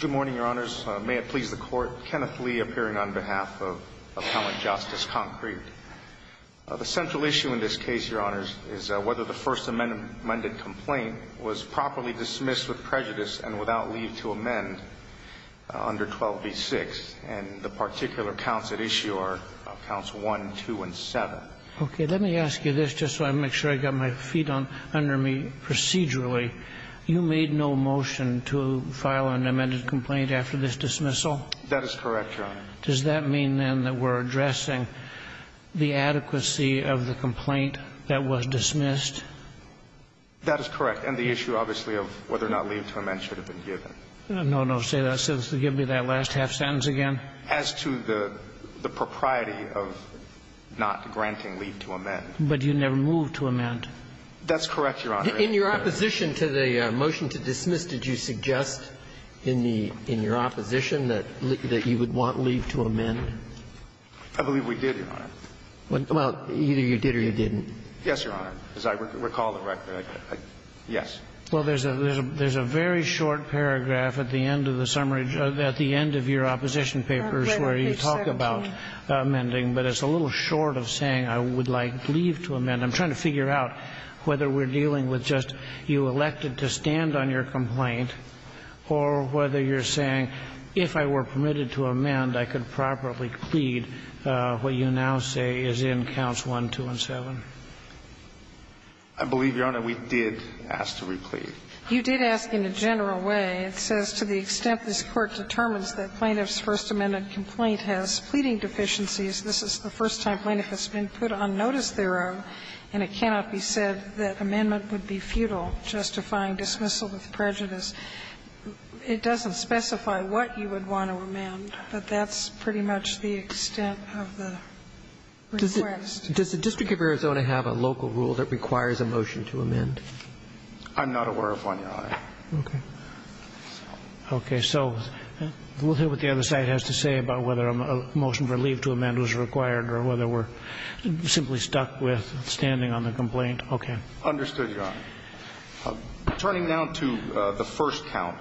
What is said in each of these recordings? Good morning, Your Honors. May it please the Court, Kenneth Lee appearing on behalf of Appellant Justice Concrete. The central issue in this case, Your Honors, is whether the First Amendment complaint was properly dismissed with prejudice and without leave to amend under 12b-6, and the particular counts at issue are counts 1, 2, and 7. Okay, let me ask you this just so I make sure I got my feet under me procedurally. You made no motion to file an amended complaint after this dismissal? That is correct, Your Honor. Does that mean, then, that we're addressing the adequacy of the complaint that was dismissed? That is correct. And the issue, obviously, of whether or not leave to amend should have been given. No, no. Say that. Give me that last half sentence again. As to the propriety of not granting leave to amend. But you never moved to amend. That's correct, Your Honor. In your opposition to the motion to dismiss, did you suggest in the – in your opposition that you would want leave to amend? I believe we did, Your Honor. Well, either you did or you didn't. Yes, Your Honor. As I recall the record, I did. Yes. Well, there's a very short paragraph at the end of the summary – at the end of your opposition papers where you talk about amending, but it's a little short of saying I would like leave to amend. I'm trying to figure out whether we're dealing with just you elected to stand on your complaint or whether you're saying, if I were permitted to amend, I could properly plead what you now say is in counts 1, 2, and 7. I believe, Your Honor, we did ask to re-plead. You did ask in a general way. It says, to the extent this Court determines that plaintiff's first amended complaint has pleading deficiencies, this is the first time plaintiff has been put on notice thereof, and it cannot be said that amendment would be futile, justifying dismissal with prejudice, it doesn't specify what you would want to amend, but that's pretty much the extent of the request. Does the District of Arizona have a local rule that requires a motion to amend? I'm not aware of one, Your Honor. Okay. Okay. So we'll hear what the other side has to say about whether a motion for leave to amend was required or whether we're simply stuck with standing on the complaint. Okay. Understood, Your Honor. Turning now to the first count,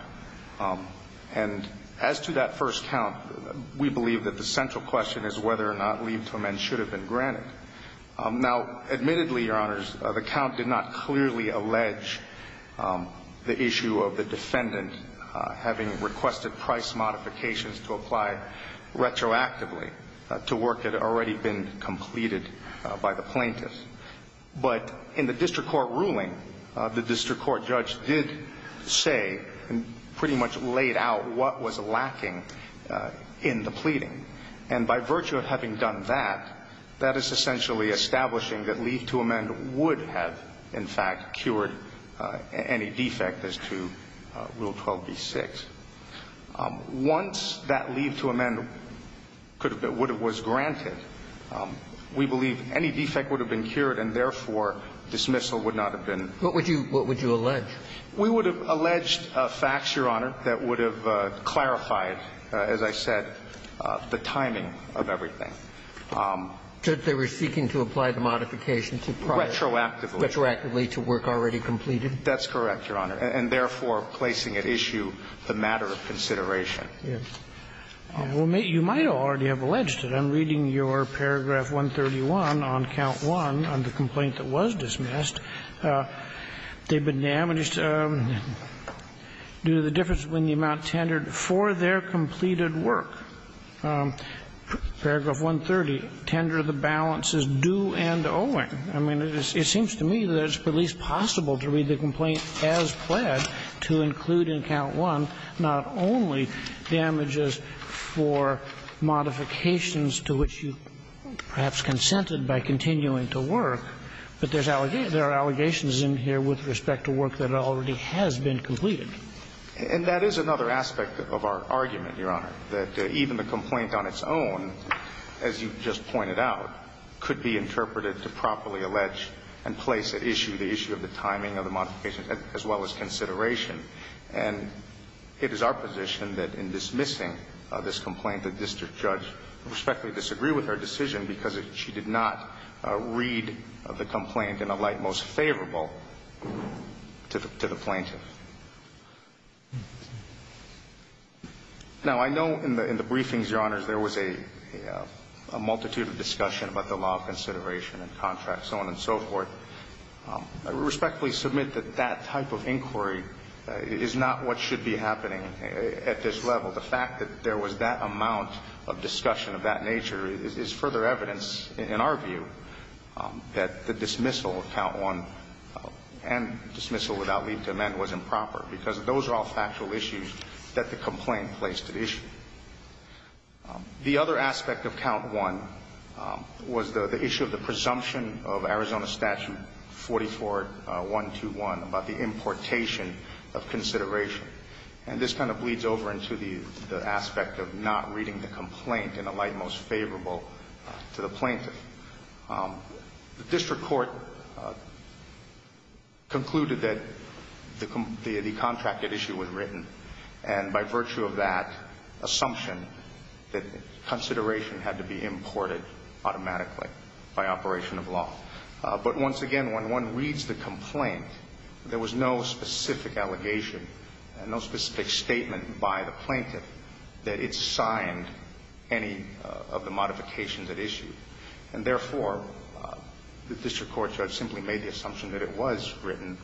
and as to that first count, we believe that the central question is whether or not leave to amend should have been granted. Now, admittedly, Your Honors, the count did not clearly allege the issue of the defendant having requested price modifications to apply retroactively to work that had already been completed by the plaintiff. But in the district court ruling, the district court judge did say and pretty much laid out what was lacking in the pleading, and by virtue of having done that, that is the court essentially establishing that leave to amend would have, in fact, cured any defect as to Rule 12b-6. Once that leave to amend could have been or would have been granted, we believe any defect would have been cured and, therefore, dismissal would not have been. What would you allege? We would have alleged facts, Your Honor, that would have clarified, as I said, the timing of everything. So they were seeking to apply the modification to prior. Retroactively. Retroactively to work already completed. That's correct, Your Honor, and therefore placing at issue the matter of consideration. Yes. Well, you might already have alleged it. I'm reading your paragraph 131 on count 1 on the complaint that was dismissed. They've been damaged due to the difference between the amount tendered for their completed work. Paragraph 130, tender of the balance is due and owing. I mean, it seems to me that it's at least possible to read the complaint as pled to include in count 1 not only damages for modifications to which you perhaps consented by continuing to work, but there are allegations in here with respect to work that already has been completed. And that is another aspect of our argument, Your Honor, that even the complaint on its own, as you just pointed out, could be interpreted to properly allege and place at issue the issue of the timing of the modification as well as consideration. And it is our position that in dismissing this complaint, the district judge respectfully disagree with our decision because she did not read the complaint in a light most favorable to the plaintiff. Now, I know in the briefings, Your Honors, there was a multitude of discussion about the law of consideration and contract, so on and so forth. I respectfully submit that that type of inquiry is not what should be happening at this level. The fact that there was that amount of discussion of that nature is further evidence, in our view, that the dismissal of count 1 and dismissal without leave to amend was improper because those are all factual issues that the complaint placed at issue. The other aspect of count 1 was the issue of the presumption of Arizona Statute 44-121 about the importation of consideration. And this kind of bleeds over into the aspect of not reading the complaint in a light most favorable to the plaintiff. The district court concluded that the contract at issue was written, and by virtue of that assumption, that consideration had to be imported automatically by operation of law. But once again, when one reads the complaint, there was no specific allegation and no specific statement by the plaintiff that it signed any of the modifications at issue. And therefore, the district court judge simply made the assumption that it was written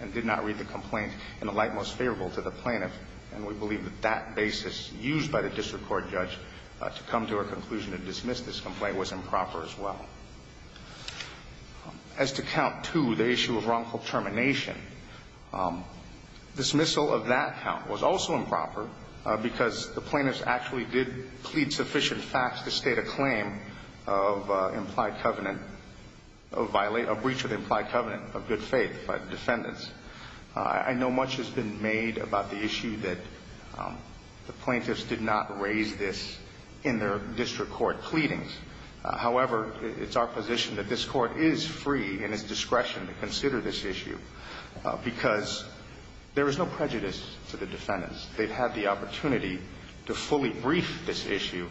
and did not read the complaint in a light most favorable to the plaintiff. And we believe that that basis used by the district court judge to come to a conclusion to dismiss this complaint was improper as well. As to count 2, the issue of wrongful termination, dismissal of that count was also improper because the plaintiffs actually did plead sufficient facts to state a claim of implied covenant, a breach of implied covenant of good faith by the defendants. I know much has been made about the issue that the plaintiffs did not raise this in their district court pleadings. However, it's our position that this Court is free in its discretion to consider this issue because there is no prejudice to the defendants. They've had the opportunity to fully brief this issue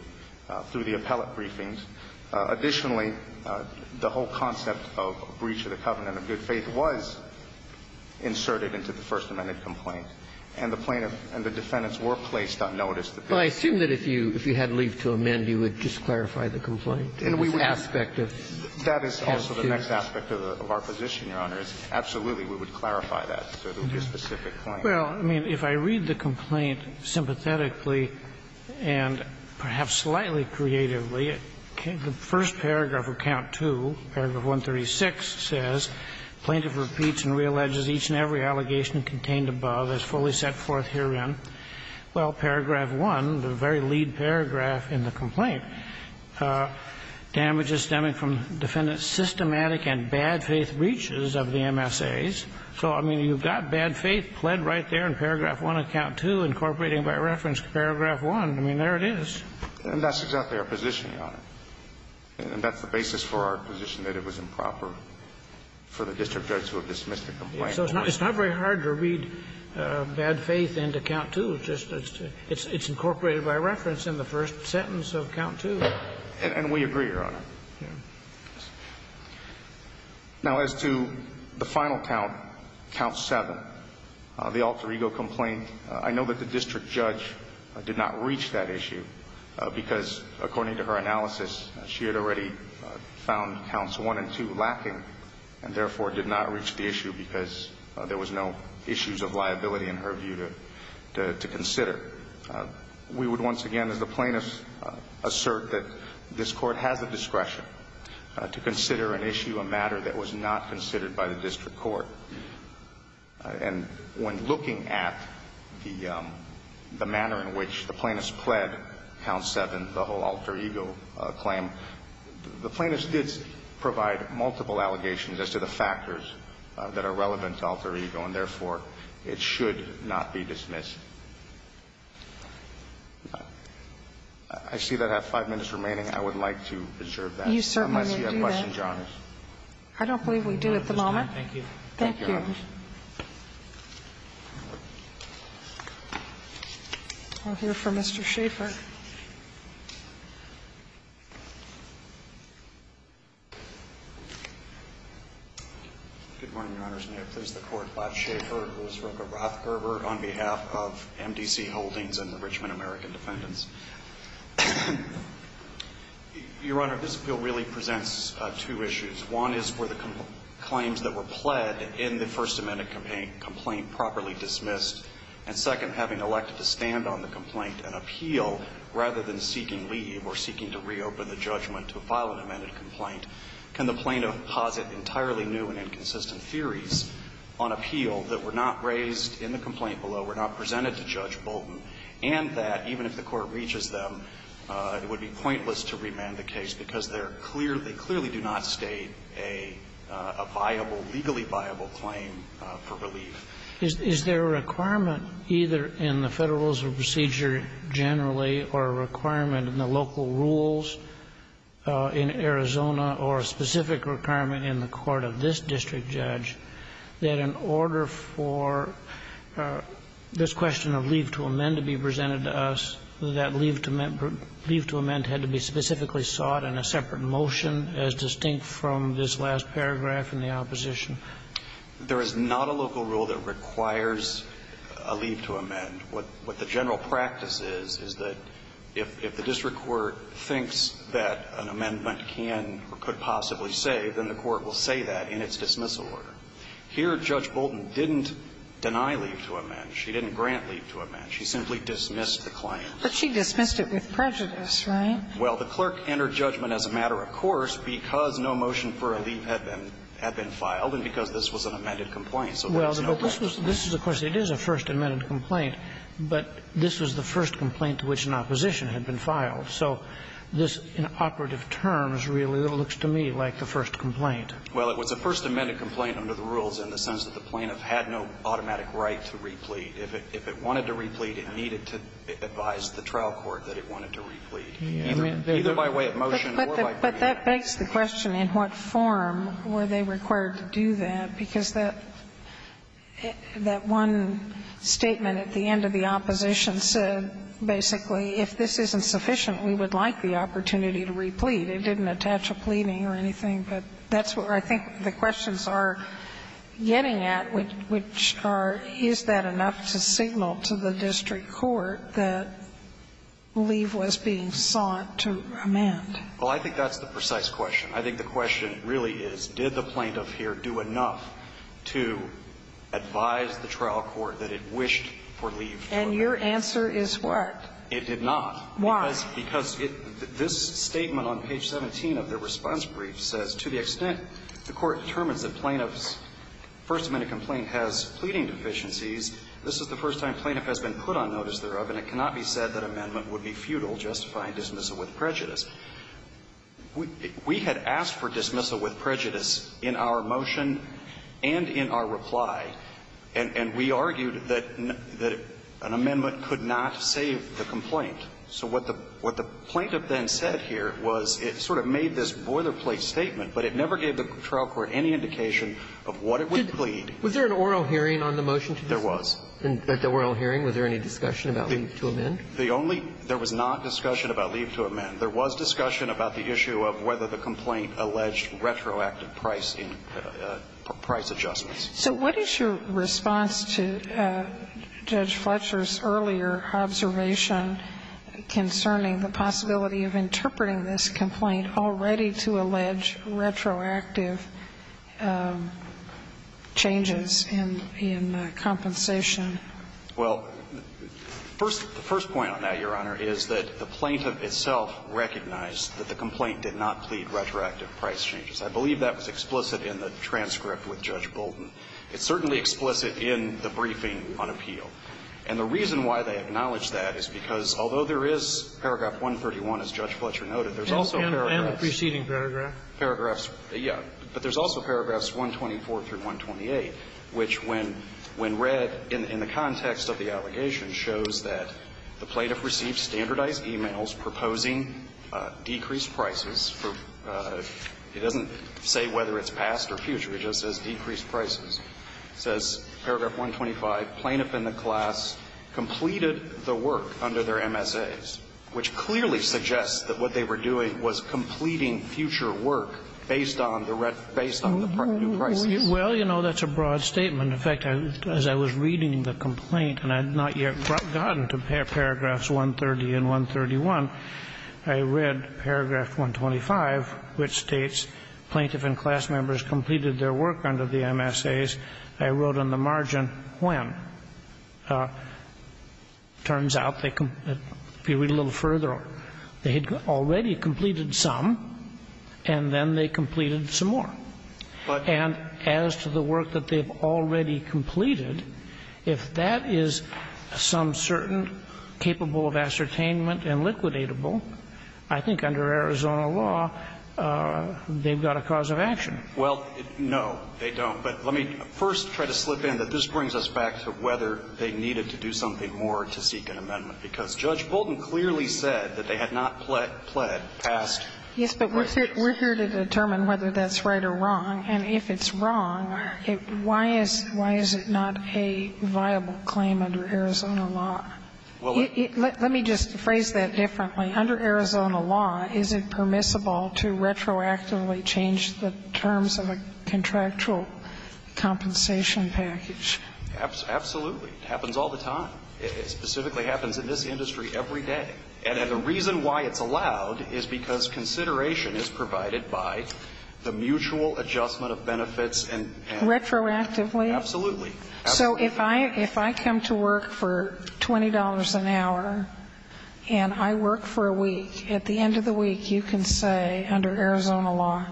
through the appellate briefings. Additionally, the whole concept of breach of the covenant of good faith was inserted into the First Amendment complaint, and the plaintiff and the defendants were placed on notice. I assume that if you had leave to amend, you would just clarify the complaint in this aspect of the case? That is also the next aspect of our position, Your Honor, is absolutely we would clarify that. So there would be a specific point. Well, I mean, if I read the complaint sympathetically and perhaps slightly creatively, the first paragraph of count 2, paragraph 136, says, Plaintiff repeats and realleges each and every allegation contained above as fully set forth herein. Well, paragraph 1, the very lead paragraph in the complaint, damages stemming from defendant's systematic and bad faith breaches of the MSAs. So, I mean, you've got bad faith pled right there in paragraph 1 of count 2, incorporating by reference to paragraph 1. I mean, there it is. And that's exactly our positioning, Your Honor. And that's the basis for our position that it was improper for the district judge to have dismissed the complaint. So it's not very hard to read bad faith into count 2. It's just it's incorporated by reference in the first sentence of count 2. And we agree, Your Honor. Now, as to the final count, count 7, the alter ego complaint, I know that the district judge did not reach that issue because, according to her analysis, she had already found counts 1 and 2 lacking and, therefore, did not reach the issue because there was no issues of liability, in her view, to consider. We would, once again, as the plaintiff, assert that this Court has the discretion to consider an issue, a matter that was not considered by the district court. And when looking at the manner in which the plaintiff pled count 7, the whole alter ego complaint, the plaintiff did provide multiple allegations as to the factors that are relevant to alter ego, and, therefore, it should not be dismissed. I see that I have five minutes remaining. I would like to reserve that. Unless you have a question, Your Honor. I don't believe we do at the moment. Thank you. Thank you. I'll hear from Mr. Schaffer. Good morning, Your Honors. May it please the Court. Bob Schaffer, Elizabeth Rothgerber on behalf of MDC Holdings and the Richmond American Defendants. Your Honor, this bill really presents two issues. One is for the claims that were pled in the First Amendment complaint properly rather than seeking leave or seeking to reopen the judgment to file an amended complaint. Can the plaintiff posit entirely new and inconsistent theories on appeal that were not raised in the complaint below, were not presented to Judge Bolton, and that, even if the Court reaches them, it would be pointless to remand the case because they're clearly do not state a viable, legally viable claim for relief. Is there a requirement either in the Federal Rules of Procedure generally or a requirement in the local rules in Arizona or a specific requirement in the court of this district judge that in order for this question of leave to amend to be presented to us, that leave to amend had to be specifically sought in a separate motion as distinct from this last paragraph in the opposition? There is not a local rule that requires a leave to amend. What the general practice is, is that if the district court thinks that an amendment can or could possibly say, then the court will say that in its dismissal order. Here, Judge Bolton didn't deny leave to amend. She didn't grant leave to amend. She simply dismissed the claim. But she dismissed it with prejudice, right? Well, the clerk entered judgment as a matter of course because no motion for a leave to amend had been filed and because this was an amended complaint. So there was no right to complain. Well, but this was the question. It is a first amended complaint, but this was the first complaint to which an opposition had been filed. So this in operative terms really looks to me like the first complaint. Well, it was a first amended complaint under the rules in the sense that the plaintiff had no automatic right to replete. If it wanted to replete, it needed to advise the trial court that it wanted to replete, either by way of motion or by plea. But that begs the question, in what form were they required to do that? Because that one statement at the end of the opposition said basically, if this isn't sufficient, we would like the opportunity to replete. It didn't attach a pleading or anything, but that's where I think the questions are getting at, which are, is that enough to signal to the district court that leave was being sought to amend? Well, I think that's the precise question. I think the question really is, did the plaintiff here do enough to advise the trial court that it wished for leave to amend? And your answer is what? It did not. Why? Because this statement on page 17 of the response brief says, to the extent the court determines that plaintiff's first amended complaint has pleading deficiencies, this is the first time plaintiff has been put on notice thereof, and it cannot be said that amendment would be futile, justifying dismissal with prejudice. We had asked for dismissal with prejudice in our motion and in our reply, and we argued that an amendment could not save the complaint. So what the plaintiff then said here was it sort of made this boilerplate statement, but it never gave the trial court any indication of what it would plead. Was there an oral hearing on the motion to dismiss? There was. At the oral hearing, was there any discussion about leave to amend? The only – there was not discussion about leave to amend. There was discussion about the issue of whether the complaint alleged retroactive price in – price adjustments. So what is your response to Judge Fletcher's earlier observation concerning the possibility of interpreting this complaint already to allege retroactive changes in – in compensation? Well, first – the first point on that, Your Honor, is that the plaintiff itself recognized that the complaint did not plead retroactive price changes. I believe that was explicit in the transcript with Judge Bolden. It's certainly explicit in the briefing on appeal. And the reason why they acknowledge that is because, although there is paragraph 131, as Judge Fletcher noted, there's also paragraphs – And the preceding paragraph. Paragraphs. Yeah. But there's also paragraphs 124 through 128, which when – when read in the context of the allegation shows that the plaintiff received standardized e-mails proposing decreased prices for – it doesn't say whether it's past or future. It just says decreased prices. It says, paragraph 125, plaintiff and the class completed the work under their MSAs, which clearly suggests that what they were doing was completing future work based on the – based on the new prices. Well, you know, that's a broad statement. In fact, as I was reading the complaint, and I had not yet gotten to paragraphs 130 and 131, I read paragraph 125, which states, plaintiff and class members completed their work under the MSAs. I wrote on the margin when. Turns out they – if you read a little further, they had already completed some, and then they completed some more. But – And as to the work that they've already completed, if that is some certain capable of ascertainment and liquidatable, I think under Arizona law they've got a cause of action. Well, no, they don't. But let me first try to slip in that this brings us back to whether they needed to do something more to seek an amendment, because Judge Bolton clearly said that they had not pled past questions. Yes, but we're here to determine whether that's right or wrong. And if it's wrong, why is – why is it not a viable claim under Arizona law? Well, it – Let me just phrase that differently. Under Arizona law, is it permissible to retroactively change the terms of a contractual compensation package? Absolutely. It happens all the time. It specifically happens in this industry every day. And the reason why it's allowed is because consideration is provided by the mutual adjustment of benefits and – Retroactively? Absolutely. Absolutely. So if I – if I come to work for $20 an hour and I work for a week, at the end of the week you can say under Arizona law,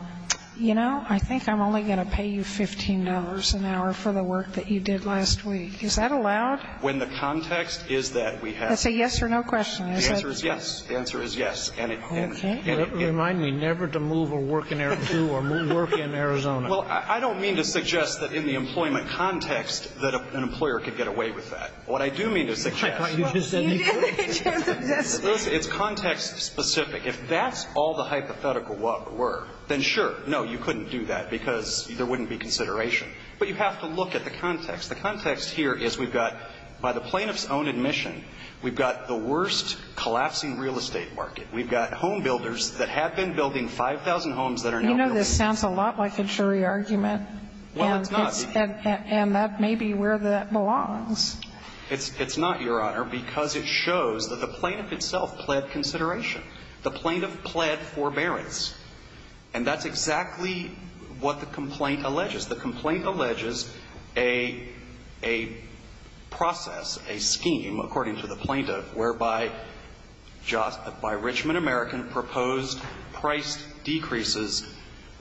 you know, I think I'm only going to pay you $15 an hour for the work that you did last week. Is that allowed? When the context is that we have – Is that a yes or no question? The answer is yes. The answer is yes. Okay. Remind me never to move or work in Arizona. Well, I don't mean to suggest that in the employment context that an employer could get away with that. What I do mean to suggest is context specific. If that's all the hypothetical were, then sure, no, you couldn't do that because there wouldn't be consideration. But you have to look at the context. The context here is we've got, by the plaintiff's own admission, we've got the worst collapsing real estate market. We've got home builders that have been building 5,000 homes that are now real estate. You know, this sounds a lot like a jury argument. Well, it's not. And that may be where that belongs. It's not, Your Honor, because it shows that the plaintiff itself pled consideration. The plaintiff pled forbearance. And that's exactly what the complaint alleges. The complaint alleges a process, a scheme, according to the plaintiff, whereby Richmond American proposed price decreases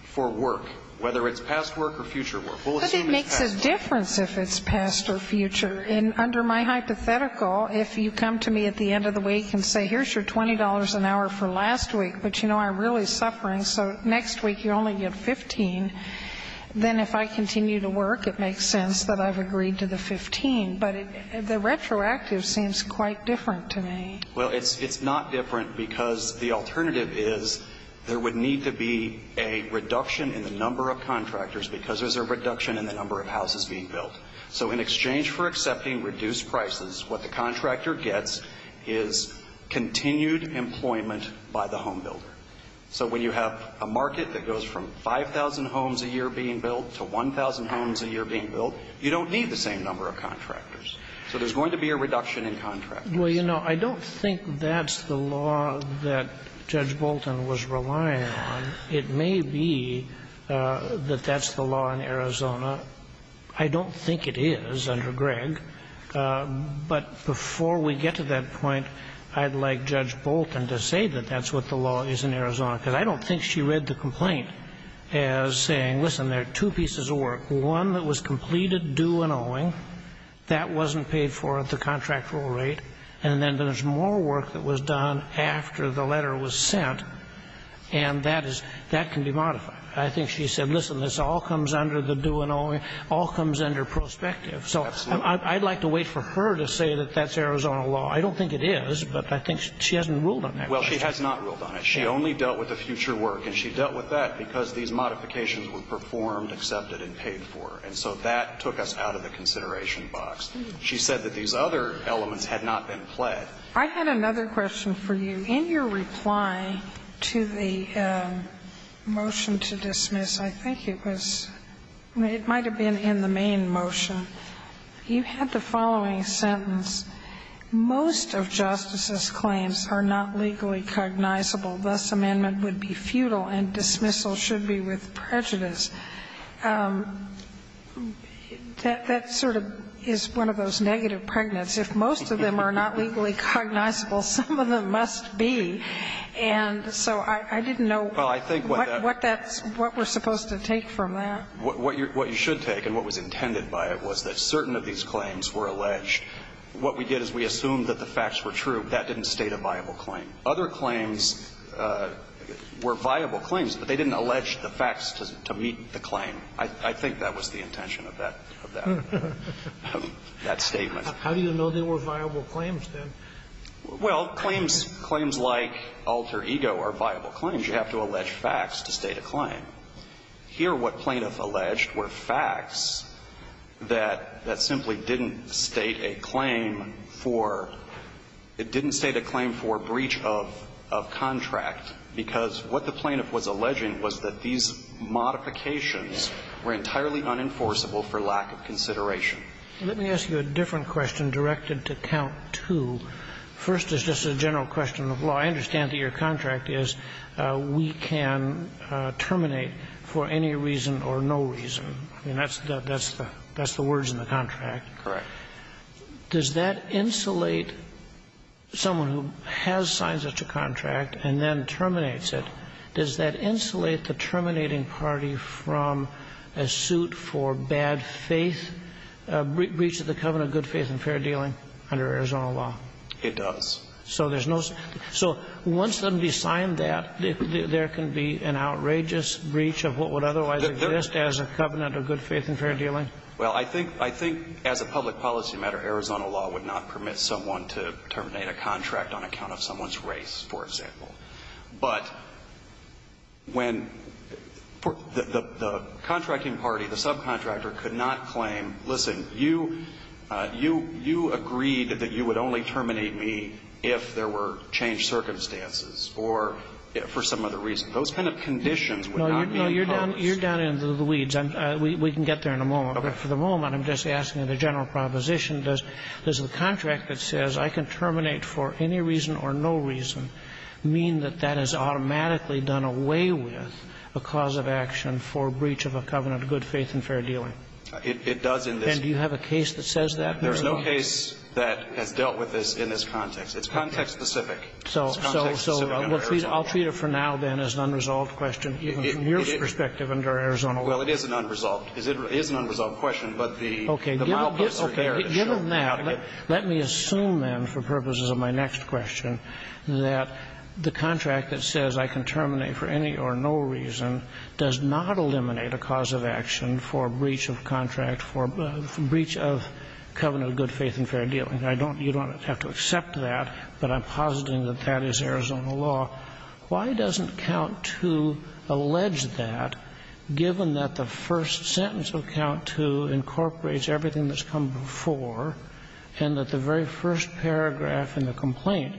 for work, whether it's past work or future work. We'll assume it's past work. But it makes a difference if it's past or future. And under my hypothetical, if you come to me at the end of the week and say, here's your $20 an hour for last week, but, you know, I'm really suffering, so next week you only get $15, then if I continue to work, it makes sense that I've agreed to the $15. But the retroactive seems quite different to me. Well, it's not different because the alternative is there would need to be a reduction in the number of contractors because there's a reduction in the number of houses being built. So in exchange for accepting reduced prices, what the contractor gets is continued employment by the home builder. So when you have a market that goes from 5,000 homes a year being built to 1,000 homes a year being built, you don't need the same number of contractors. So there's going to be a reduction in contractors. Well, you know, I don't think that's the law that Judge Bolton was relying on. It may be that that's the law in Arizona. I don't think it is under Gregg. But before we get to that point, I'd like Judge Bolton to say that that's what the law is in Arizona because I don't think she read the complaint as saying, listen, there are two pieces of work. One that was completed due and owing. That wasn't paid for at the contractual rate. And then there's more work that was done after the letter was sent. And that can be modified. I think she said, listen, this all comes under the due and owing, all comes under prospective. So I'd like to wait for her to say that that's Arizona law. I don't think it is, but I think she hasn't ruled on that. Well, she has not ruled on it. She only dealt with the future work. And she dealt with that because these modifications were performed, accepted and paid for. And so that took us out of the consideration box. She said that these other elements had not been pled. I had another question for you. In your reply to the motion to dismiss, I think it was – it might have been in the main motion. You had the following sentence, Most of justices' claims are not legally cognizable. Thus, amendment would be futile and dismissal should be with prejudice. That sort of is one of those negative pregnants. If most of them are not legally cognizable, some of them must be. And so I didn't know what that's – what we're supposed to take from that. What you should take and what was intended by it was that certain of these claims were alleged. What we did is we assumed that the facts were true. That didn't state a viable claim. Other claims were viable claims, but they didn't allege the facts to meet the claim. I think that was the intention of that statement. How do you know they were viable claims, then? Well, claims like alter ego are viable claims. You have to allege facts to state a claim. Here, what plaintiff alleged were facts that simply didn't state a claim for – it didn't state a claim for breach of contract, because what the plaintiff was alleging was that these modifications were entirely unenforceable for lack of consideration. Let me ask you a different question directed to count two. First, it's just a general question of law. So I understand that your contract is we can terminate for any reason or no reason. I mean, that's the words in the contract. Correct. Does that insulate someone who has signed such a contract and then terminates it, does that insulate the terminating party from a suit for bad faith, breach of the covenant of good faith and fair dealing under Arizona law? It does. So there's no – so once somebody signed that, there can be an outrageous breach of what would otherwise exist as a covenant of good faith and fair dealing? Well, I think as a public policy matter, Arizona law would not permit someone to terminate a contract on account of someone's race, for example. But when the contracting party, the subcontractor, could not claim, listen, you agreed that you would only terminate me if there were changed circumstances or for some other reason. Those kind of conditions would not be imposed. No, you're down into the weeds. We can get there in a moment. Okay. But for the moment, I'm just asking the general proposition, does the contract that says I can terminate for any reason or no reason mean that that has automatically done away with a cause of action for breach of a covenant of good faith and fair dealing? It does in this case. And do you have a case that says that? There's no case that has dealt with this in this context. It's context-specific. It's context-specific under Arizona law. So I'll treat it for now, then, as an unresolved question, even from your perspective under Arizona law. Well, it is an unresolved. It is an unresolved question, but the mileposts are there to show. Okay. Given that, let me assume, then, for purposes of my next question, that the contract that says I can terminate for any or no reason does not eliminate a cause of action for breach of contract, for breach of covenant of good faith and fair dealing. I don't you don't have to accept that, but I'm positing that that is Arizona law. Why doesn't Count II allege that, given that the first sentence of Count II incorporates everything that's come before, and that the very first paragraph in the complaint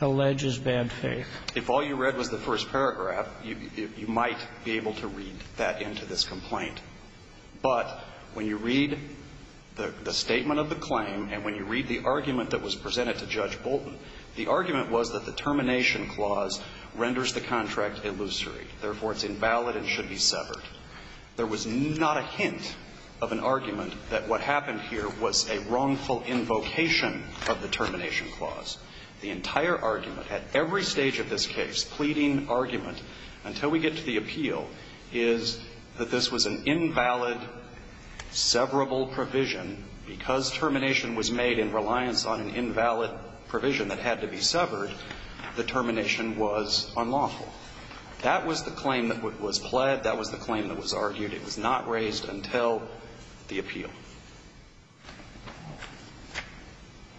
alleges bad faith? If all you read was the first paragraph, you might be able to read that into this case, but when you read the statement of the claim and when you read the argument that was presented to Judge Bolton, the argument was that the termination clause renders the contract illusory. Therefore, it's invalid and should be severed. There was not a hint of an argument that what happened here was a wrongful invocation of the termination clause. The entire argument at every stage of this case, pleading argument, until we get to the appeal, is that this was an invalid, severable provision because termination was made in reliance on an invalid provision that had to be severed. The termination was unlawful. That was the claim that was pled. That was the claim that was argued. It was not raised until the appeal.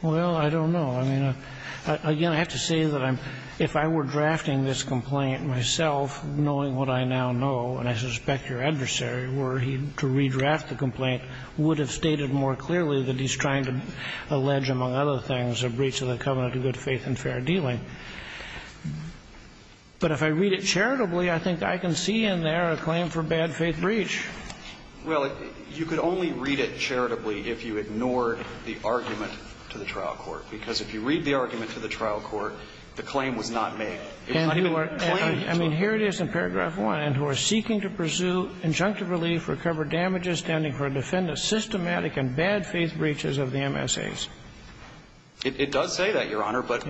Well, I don't know. I mean, again, I have to say that if I were drafting this complaint myself, knowing what I now know, and I suspect your adversary were he to redraft the complaint, would have stated more clearly that he's trying to allege, among other things, a breach of the covenant of good faith and fair dealing. But if I read it charitably, I think I can see in there a claim for bad faith breach. Well, you could only read it charitably if you ignored the argument to the trial court, because if you read the argument to the trial court, the claim was not made. It's not even a claim. I mean, here it is in paragraph 1. And who are seeking to pursue injunctive relief for covered damages standing for a defendant's systematic and bad faith breaches of the MSAs. It does say that, Your Honor, but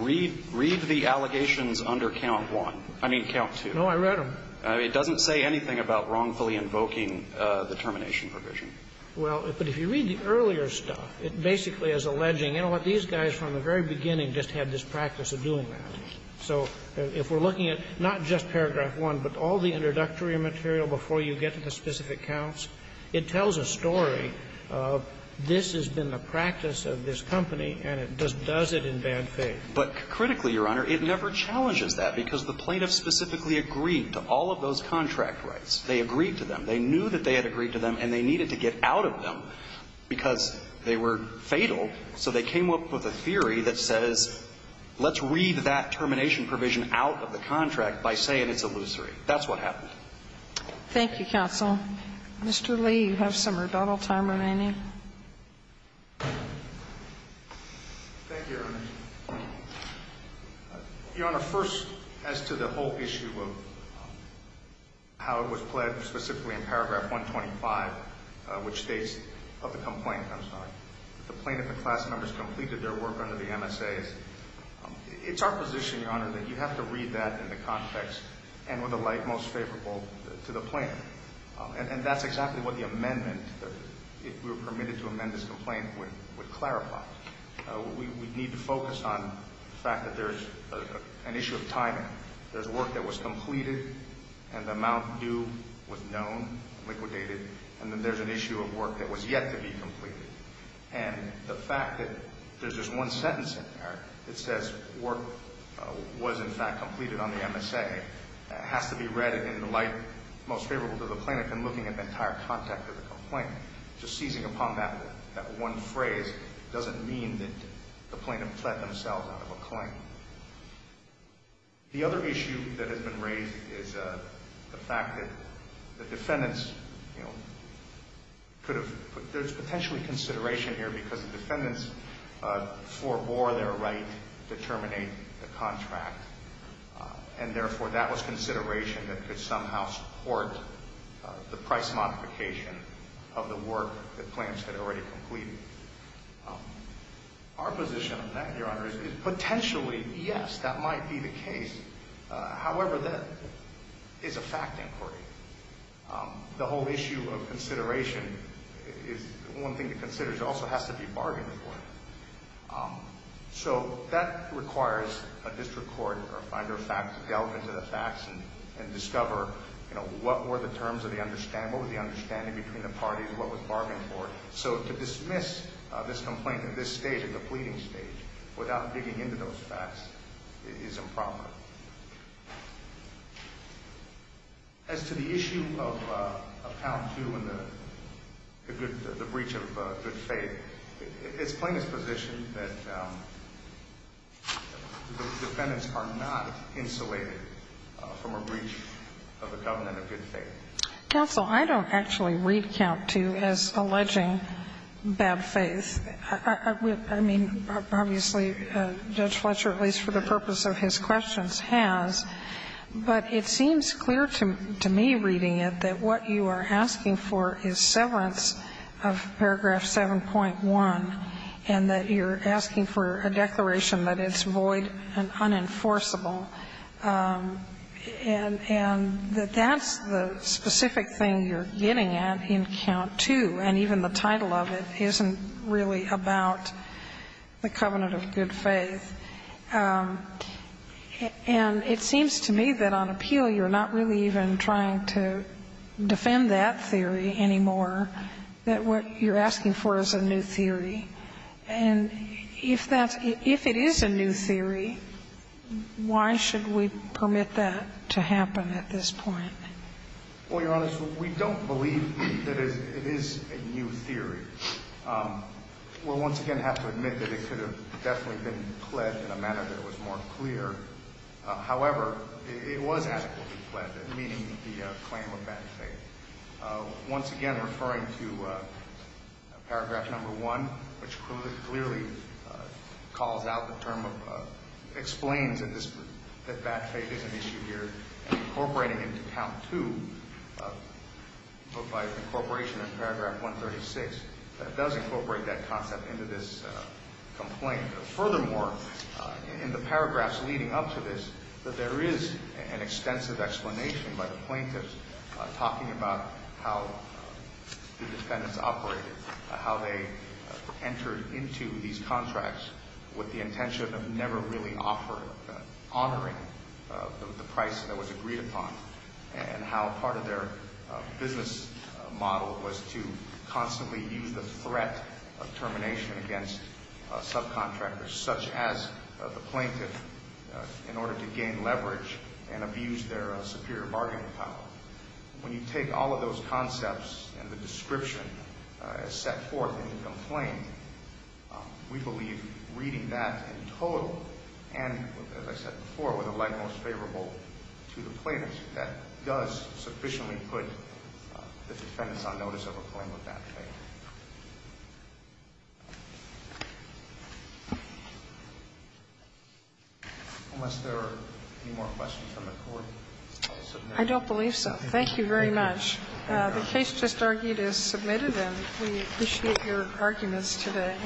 read the allegations under count one. I mean, count two. No, I read them. It doesn't say anything about wrongfully invoking the termination provision. Well, but if you read the earlier stuff, it basically is alleging, you know what? These guys from the very beginning just had this practice of doing that. So if we're looking at not just paragraph one, but all the introductory material before you get to the specific counts, it tells a story of this has been the practice of this company, and it does it in bad faith. But critically, Your Honor, it never challenges that, because the plaintiffs specifically agreed to all of those contract rights. They agreed to them. They knew that they had agreed to them, and they needed to get out of them because they were fatal. So they came up with a theory that says let's read that termination provision out of the contract by saying it's illusory. That's what happened. Thank you, counsel. Mr. Lee, you have some rebuttal time remaining. Thank you, Your Honor. Your Honor, first, as to the whole issue of how it was pledged specifically in paragraph 125, which states of the complaint, I'm sorry, the plaintiff and class members completed their work under the MSAs, it's our position, Your Honor, that you have to read that in the context and with the light most favorable to the plaintiff. And that's exactly what the amendment, if we were permitted to amend this complaint, would clarify. We need to focus on the fact that there's an issue of timing. There's work that was completed, and the amount due was known, liquidated, and then there's an issue of work that was yet to be completed. And the fact that there's just one sentence in there that says work was, in fact, completed on the MSA has to be read in the light most favorable to the plaintiff and looking at the entire context of the complaint. Just seizing upon that one phrase doesn't mean that the plaintiff can plead themselves out of a claim. The other issue that has been raised is the fact that the defendants, you know, could have put, there's potentially consideration here because the defendants forbore their right to terminate the contract, and therefore that was consideration that could somehow support the price modification of the work that claims had already completed. Our position on that, Your Honor, is potentially, yes, that might be the case. However, that is a fact inquiry. The whole issue of consideration is one thing to consider. It also has to be bargained for. So that requires a district court or a finder of facts to delve into the facts and discover, you know, what were the terms of the understanding? What was the understanding between the parties? What was bargained for? So to dismiss this complaint at this stage, at the pleading stage, without digging into those facts is improper. As to the issue of Count II and the breach of good faith, it's plaintiff's position that the defendants are not insulated from a breach of the covenant of good faith. Counsel, I don't actually read Count II as alleging bad faith. I mean, obviously, Judge Fletcher, at least for the purpose of his questions, has, but it seems clear to me reading it that what you are asking for is severance of paragraph 7.1, and that you're asking for a declaration that it's void and unenforceable. And that that's the specific thing you're getting at in Count II, and even the title of it isn't really about the covenant of good faith. And it seems to me that on appeal you're not really even trying to defend that theory anymore, that what you're asking for is a new theory. And if that's – if it is a new theory, why should we permit that to happen at this point? Well, Your Honor, we don't believe that it is a new theory. We'll once again have to admit that it could have definitely been pledged in a manner that was more clear. However, it was actually pledged, meaning the claim of bad faith. Once again, referring to paragraph number 1, which clearly calls out the term of – explains that this – that bad faith is an issue here, incorporating into Count II, but by incorporation in paragraph 136, that does incorporate that concept into this complaint. Furthermore, in the paragraphs leading up to this, there is an extensive explanation by the plaintiffs, talking about how the defendants operated, how they entered into these contracts with the intention of never really offering – honoring the price that was agreed upon, and how part of their business model was to constantly use the threat of termination against subcontractors, such as the plaintiff, in order to gain leverage and bargaining power. When you take all of those concepts and the description as set forth in the complaint, we believe reading that in total and, as I said before, with a leg most favorable to the plaintiffs, that does sufficiently put the defendants on notice of a claim of bad faith. Unless there are any more questions from the Court, I'll submit them. I don't believe so. Thank you very much. The case just argued is submitted, and we appreciate your arguments today.